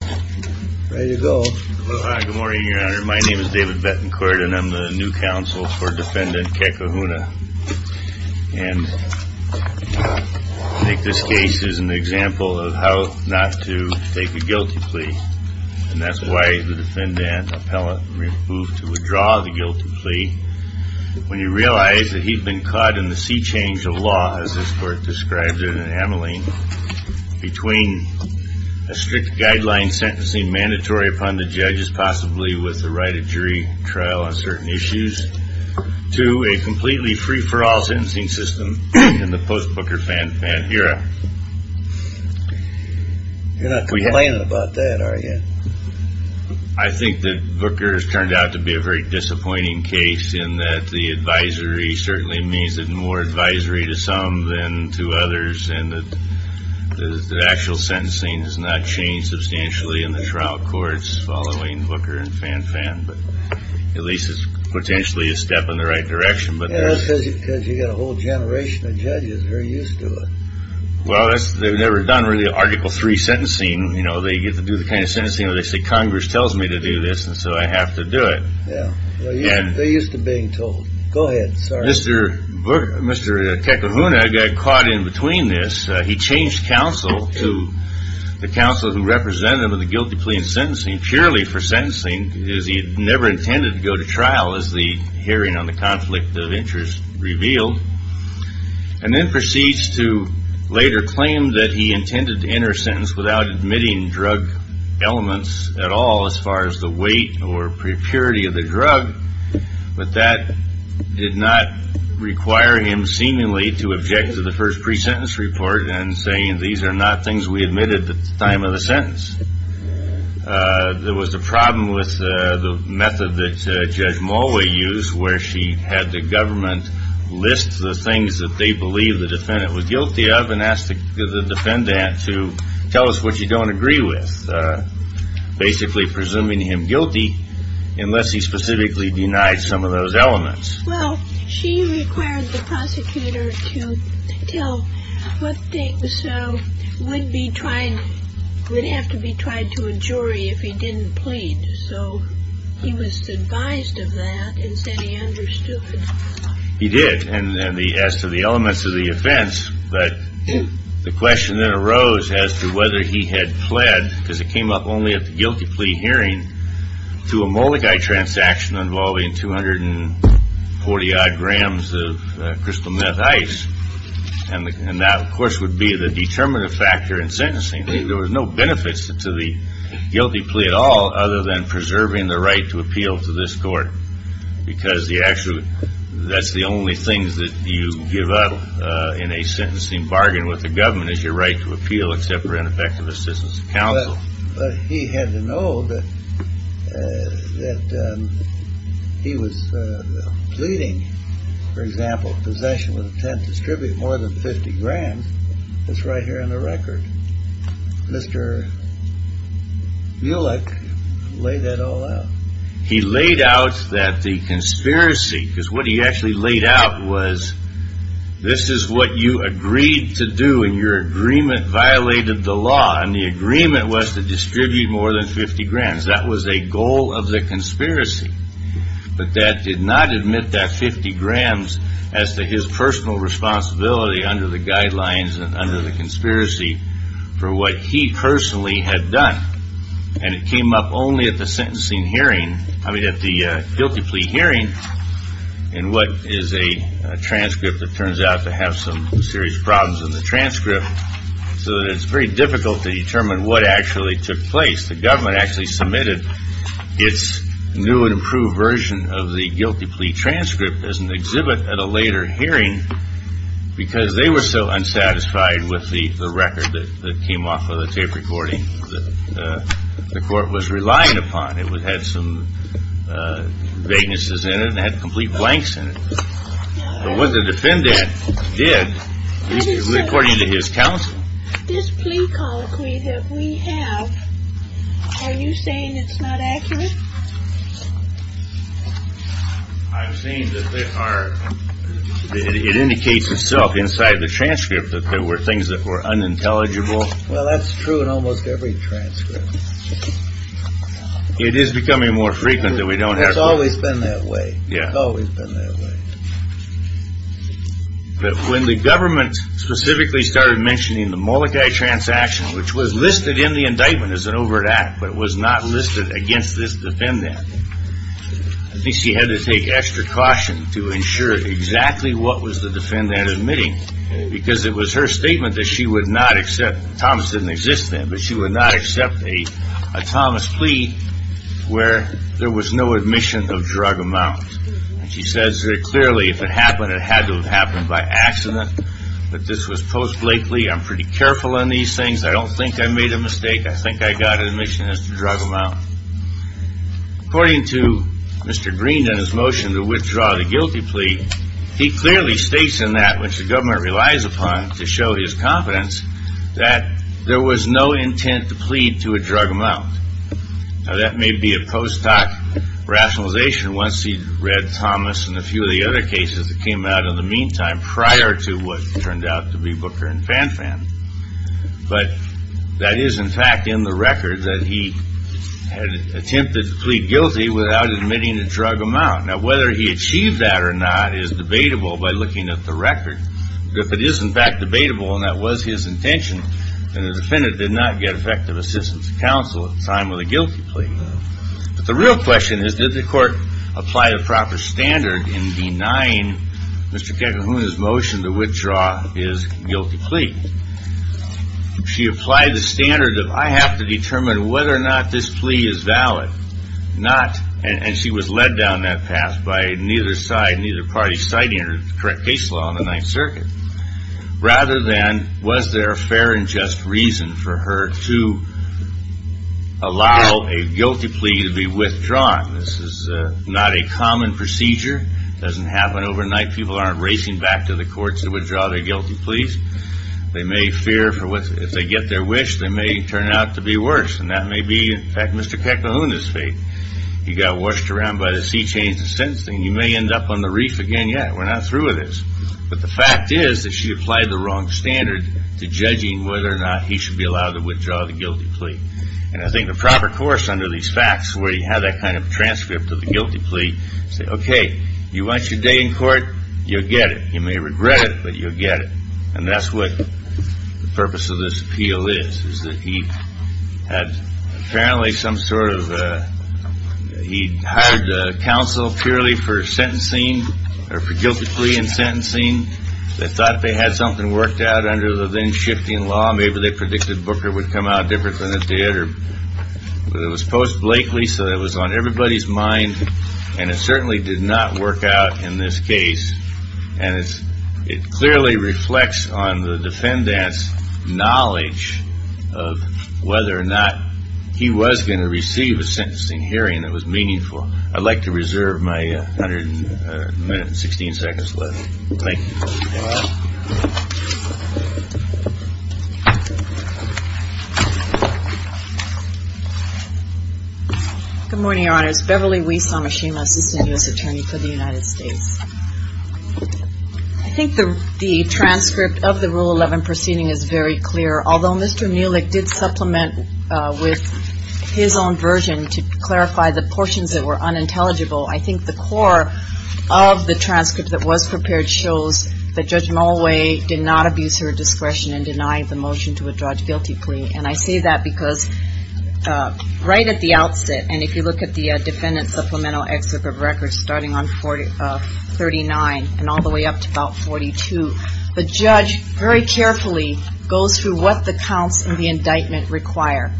My name is David Bettencourt and I'm the new counsel for defendant Kekahuna and I think this case is an example of how not to take a guilty plea and that's why the defendant appellant moved to withdraw the guilty plea when you realize that he'd been caught in the sea change of law as this court described it in sentencing mandatory upon the judges possibly with the right of jury trial on certain issues to a completely free-for-all sentencing system in the post-Booker fan fan era. You're not complaining about that are you? I think that Booker's turned out to be a very disappointing case in that the advisory certainly means that more advisory to some than to others and that the actual sentencing has not changed substantially in the trial courts following Booker and fan fan but at least it's potentially a step in the right direction but that's because you get a whole generation of judges very used to it. Well that's they've never done really article 3 sentencing you know they get to do the kind of sentencing where they say Congress tells me to do this and so I have to do it. Yeah they're used to being told. Go ahead. Mr. Kekahuna got caught in between this. He changed counsel to the counsel who represented him in the guilty plea in sentencing purely for sentencing because he had never intended to go to trial as the hearing on the conflict of interest revealed and then proceeds to later claim that he intended to enter sentence without admitting drug elements at all as far as the weight or purity of the drug but that did not require him seemingly to object to the first pre-sentence report and saying these are not things we admitted at the time of the sentence. There was a problem with the method that Judge Mulway used where she had the government list the things that they believe the defendant was guilty of and asked the defendant to tell us what you don't agree with. Basically presuming him guilty unless he specifically denied some of those elements. Well she required the prosecutor to tell what things would have to be tried to a jury if he didn't plead so he was advised of that and said he understood. He did and as to the elements of the offense but the question that arose as to whether he had pled because it came up only at the guilty plea hearing to a judge and that of course would be the determinative factor in sentencing. There was no benefits to the guilty plea at all other than preserving the right to appeal to this court because that's the only thing that you give up in a sentencing bargain with the government is your right to appeal except for ineffective assistance of counsel. But he had to know that he was pleading for example possession with intent to distribute more than 50 grand. That's right here on the record. Mr. Mulek laid that all out. He laid out that the conspiracy because what he actually laid out was this is what you agreed to do and your agreement violated the law and the agreement was to distribute more than 50 grand. That was a goal of the conspiracy. But that did not admit that 50 grand as to his personal responsibility under the guidelines and under the conspiracy for what he personally had done. And it came up only at the sentencing hearing. I mean at the guilty plea hearing and what is a transcript that turns out to have some serious problems in the transcript so that it's very difficult to determine what actually took place. The government actually submitted its new and improved version of the guilty plea transcript as an exhibit at a later hearing because they were so unsatisfied with the record that came off of the tape recording that the court was relying upon. It had some vaguenesses in it and had complete blanks in it. But what the defendant did according to his counsel. This plea conclusion we have, are you saying it's not accurate? I'm saying that there are, it indicates itself inside the transcript that there were things that were unintelligible. Well that's true in almost every transcript. It is becoming more frequent that we don't have. It's always been that way. It's always been that way. But when the government specifically started mentioning the Molokai transaction which was listed in the indictment as an overt act but was not listed against this defendant, I think she had to take extra caution to ensure exactly what was the defendant admitting because it was her statement that she would not accept, Thomas didn't exist then, but she would not accept a Thomas plea where there was no admission of drug amount. And she says very clearly if it happened, it had to have happened by accident, but this was post Blakely. I'm pretty careful on these things. I don't think I made a mistake. I think I got admission as to drug amount. According to Mr. Green and his motion to withdraw the guilty plea, he clearly states in that which the government relies upon to show his confidence that there was no intent to plead to a drug amount. Now that may be a post hoc rationalization once he read Thomas and a few of the other cases that came out in the meantime prior to what turned out to be Booker and Fanfan, but that is in fact in the record that he had attempted to plead guilty without admitting a drug amount. Now whether he achieved that or not is debatable by looking at the record. If it is in fact debatable and that was his intention, then the defendant did not get effective assistance of counsel at the time of the guilty plea. But the real question is did the court apply a proper standard in denying Mr. Kekahuna's motion to withdraw his guilty plea? She applied the standard of I have to determine whether or not this plea is valid. Rather than was there a fair and just reason for her to allow a guilty plea to be withdrawn? This is not a common procedure. It doesn't happen overnight. People aren't racing back to the courts to withdraw their guilty pleas. They may fear if they get their wish, they may turn out to be worse. And that may be in fact Mr. Kekahuna's fate. He got washed around by the sea chains of sentencing. You may end up on the reef again yet. We are not through with this. But the fact is that she applied the wrong standard to judging whether or not he should be allowed to withdraw the guilty plea. And I think the proper course under these facts where you have that kind of transcript of the guilty plea, say okay, you want your day in court? You'll get it. You may regret it, but you'll get it. And that's what the purpose of this appeal is, is that he had apparently some sort of, he hired counsel purely for sentencing or for guilty plea and sentencing. They thought they had something worked out under the then-shifting law. Maybe they predicted Booker would come out different than he did. But it was post-Blakely, so it was on everybody's mind. And it certainly did not work out in this case. And it clearly reflects on the defendant's knowledge of whether or not he was going to receive a sentencing hearing that was meaningful. I'd like to reserve my minute and 16 seconds left. Thank you. Good morning, Your Honors. Beverly Weiss, Amashima, Assistant U.S. Attorney for the United States. I think the transcript of the Rule 11 proceeding is very clear. Although Mr. Neelick did supplement with his own version to clarify the portions that were unintelligible, I think the core of the transcript that was prepared shows that he was going to receive a sentencing hearing. That Judge Mulway did not abuse her discretion in denying the motion to withdraw a guilty plea. And I say that because right at the outset, and if you look at the defendant's supplemental excerpt of records starting on 39 and all the way up to about 42, the judge very carefully goes through what the counts in the indictment require.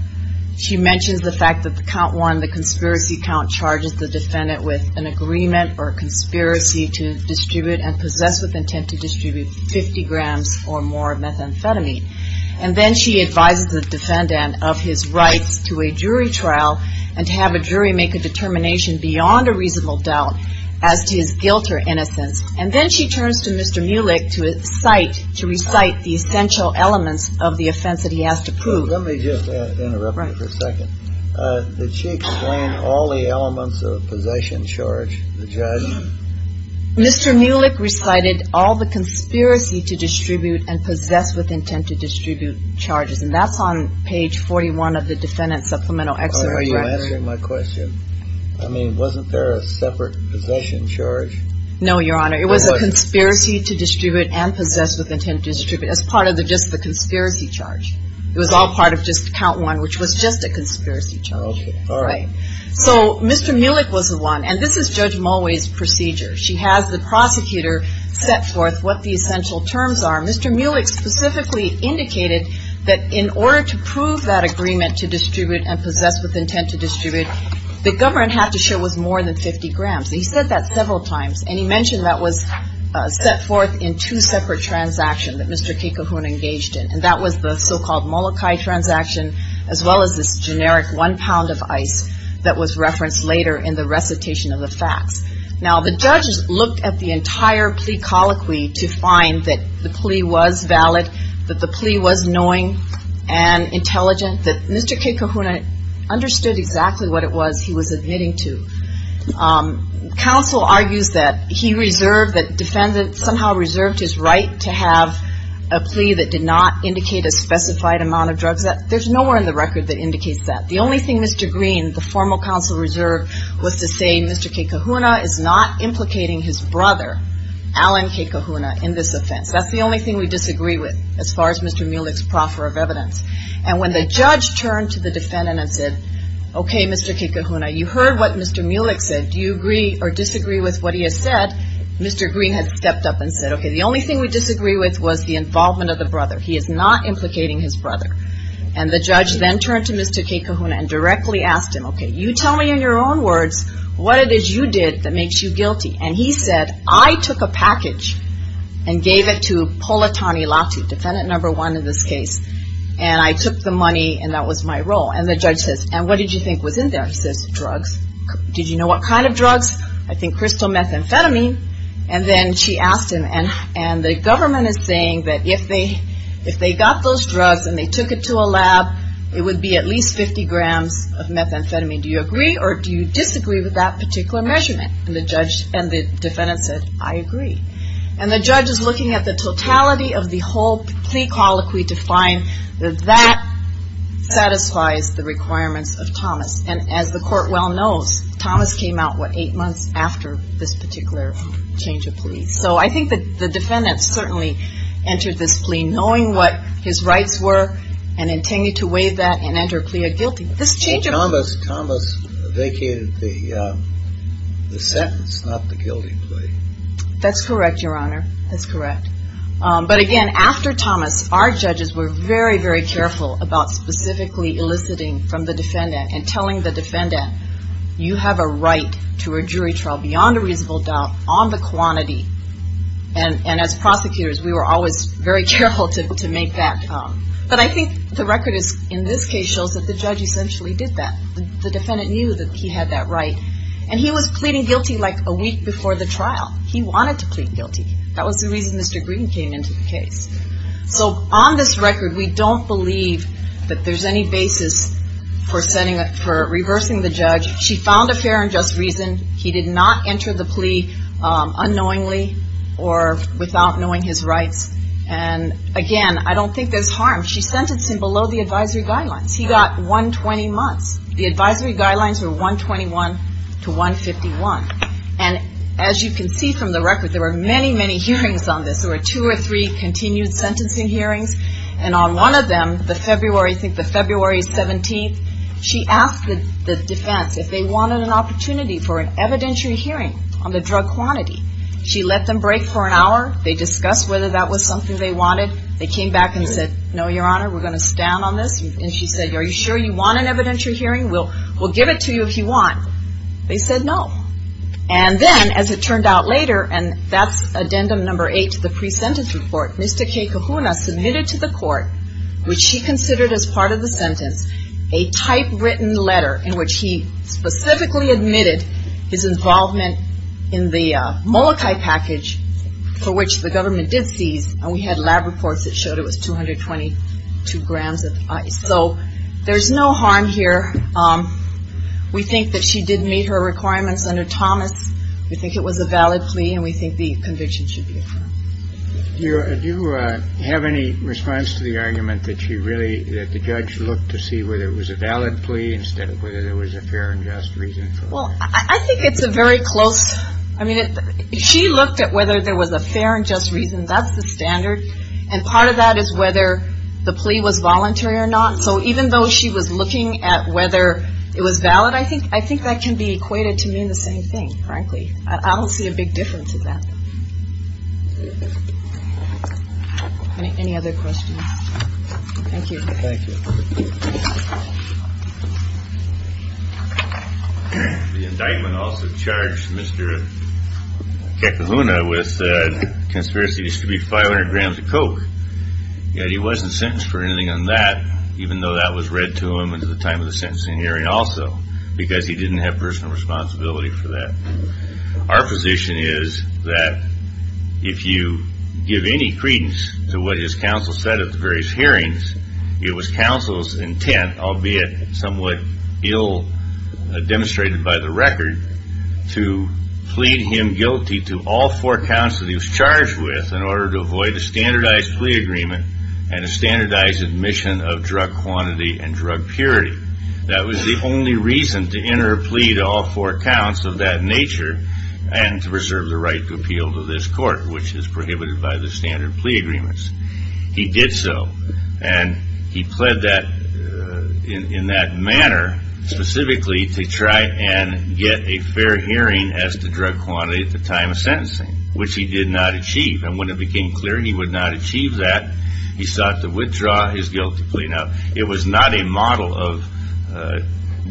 She mentions the fact that count one, the conspiracy count, charges the defendant with an agreement or conspiracy to distribute and possess with intent to distribute 50 grams or more of methamphetamine. And then she advises the defendant of his rights to a jury trial and to have a jury make a determination beyond a reasonable doubt as to his guilt or innocence. And then she turns to Mr. Neelick to recite the essential elements of the offense that he has to prove. So let me just interrupt you for a second. Did she explain all the elements of a possession charge, the judge? Mr. Neelick recited all the conspiracy to distribute and possess with intent to distribute charges. And that's on page 41 of the defendant's supplemental excerpt. Are you answering my question? I mean, wasn't there a separate possession charge? No, Your Honor. It was a conspiracy to distribute and possess with intent to distribute as part of just the conspiracy charge. It was all part of just count one, which was just a conspiracy charge. Okay. All right. So Mr. Neelick was the one, and this is Judge Mulway's procedure. She has the prosecutor set forth what the essential terms are. Mr. Neelick specifically indicated that in order to prove that agreement to distribute and possess with intent to distribute, the government had to show it was more than 50 grams. He said that several times, and he mentioned that was set forth in two separate transactions that Mr. Kekahuna engaged in. And that was the so-called Molokai transaction, as well as this generic one pound of ice that was referenced later in the recitation of the facts. Now, the judges looked at the entire plea colloquy to find that the plea was valid, that the plea was knowing and intelligent, that Mr. Kekahuna understood exactly what it was he was admitting to. Counsel argues that he reserved, that defendants somehow reserved his right to have a plea that did not indicate a specified amount of drugs. There's nowhere in the record that indicates that. The only thing Mr. Green, the formal counsel reserved, was to say Mr. Kekahuna is not implicating his brother, Alan Kekahuna, in this offense. That's the only thing we disagree with as far as Mr. Neelick's proffer of evidence. And when the judge turned to the defendant and said, okay, Mr. Kekahuna, you heard what Mr. Neelick said. Do you agree or disagree with what he has said? Mr. Green had stepped up and said, okay, the only thing we disagree with was the involvement of the brother. He is not implicating his brother. And the judge then turned to Mr. Kekahuna and directly asked him, okay, you tell me in your own words what it is you did that makes you guilty. And he said, I took a package and gave it to Politanilati, defendant number one in this case, and I took the money and that was my role. And the judge says, and what did you think was in there? He says, drugs. Did you know what kind of drugs? I think crystal methamphetamine. And then she asked him, and the government is saying that if they got those drugs and they took it to a lab, it would be at least 50 grams of methamphetamine. Do you agree or do you disagree with that particular measurement? And the defendant said, I agree. And the judge is looking at the totality of the whole plea colloquy to find that that satisfies the requirements of Thomas. And as the court well knows, Thomas came out, what, eight months after this particular change of plea. So I think that the defendant certainly entered this plea knowing what his rights were and intended to waive that and enter a plea of guilty. Thomas vacated the sentence, not the guilty plea. That's correct, your honor. That's correct. But again, after Thomas, our judges were very, very careful about specifically eliciting from the defendant and telling the defendant, you have a right to a jury trial beyond a reasonable doubt on the quantity. And as prosecutors, we were always very careful to make that. But I think the record in this case shows that the judge essentially did that. The defendant knew that he had that right. And he was pleading guilty like a week before the trial. He wanted to plead guilty. That was the reason Mr. Green came into the case. So on this record, we don't believe that there's any basis for reversing the judge. She found a fair and just reason. He did not enter the plea unknowingly or without knowing his rights. And again, I don't think there's harm. She sentenced him below the advisory guidelines. He got 120 months. The advisory guidelines were 121 to 151. And as you can see from the record, there were many, many hearings on this. There were two or three continued sentencing hearings. And on one of them, the February, I think the February 17th, she asked the defense if they wanted an opportunity for an evidentiary hearing on the drug quantity. She let them break for an hour. They discussed whether that was something they wanted. They came back and said, no, your honor, we're going to stand on this. And she said, are you sure you want an evidentiary hearing? We'll give it to you if you want. They said no. And then, as it turned out later, and that's addendum number eight to the pre-sentence report, Mr. K. Kahuna submitted to the court, which she considered as part of the sentence, a typewritten letter in which he specifically admitted his involvement in the murder. And it was a Molokai package for which the government did seize. And we had lab reports that showed it was 222 grams of ice. So there's no harm here. We think that she did meet her requirements under Thomas. We think it was a valid plea and we think the conviction should be affirmed. Do you have any response to the argument that she really, that the judge looked to see whether it was a valid plea instead of whether there was a fair and just reason for it? Well, I think it's a very close, I mean, she looked at whether there was a fair and just reason. That's the standard. And part of that is whether the plea was voluntary or not. So even though she was looking at whether it was valid, I think I think that can be equated to mean the same thing. Frankly, I don't see a big difference in that. Any other questions? Thank you. Thank you. The indictment also charged Mr. Kekaluna with conspiracy to distribute 500 grams of coke. Yet he wasn't sentenced for anything on that, even though that was read to him at the time of the sentencing hearing also because he didn't have personal responsibility for that. Our position is that if you give any credence to what his counsel said at the various hearings, it was counsel's intent, albeit somewhat ill demonstrated by the record, to plead him guilty to all four counts that he was charged with in order to avoid a standardized plea agreement and a standardized admission of drug quantity and drug purity. That was the only reason to enter a plea to all four counts of that nature and to preserve the right to appeal to this court, which is prohibited by the standard plea agreements. He did so and he pled that in that manner specifically to try and get a fair hearing as to drug quantity at the time of sentencing, which he did not achieve. And when it became clear he would not achieve that, he sought to withdraw his guilty plea. Now, it was not a model of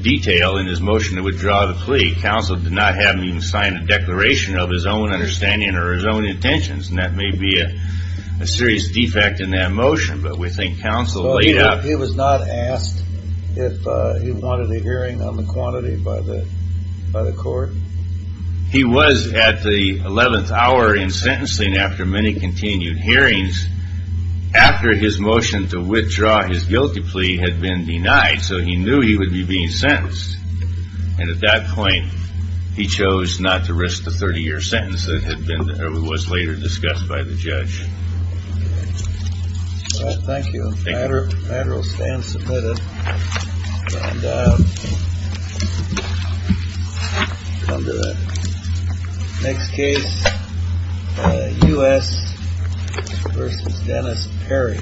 detail in his motion to withdraw the plea. Counsel did not have him sign a declaration of his own understanding or his own intentions. And that may be a serious defect in that motion. But we think counsel laid out. He was not asked if he wanted a hearing on the quantity by the court. He was at the 11th hour in sentencing after many continued hearings after his motion to withdraw his guilty plea had been denied. So he knew he would be being sentenced. And at that point, he chose not to risk the 30 year sentence that had been or was later discussed by the judge. Well, thank you. Thank you. Stand submitted. Come to the next case. U.S. versus Dennis Perry.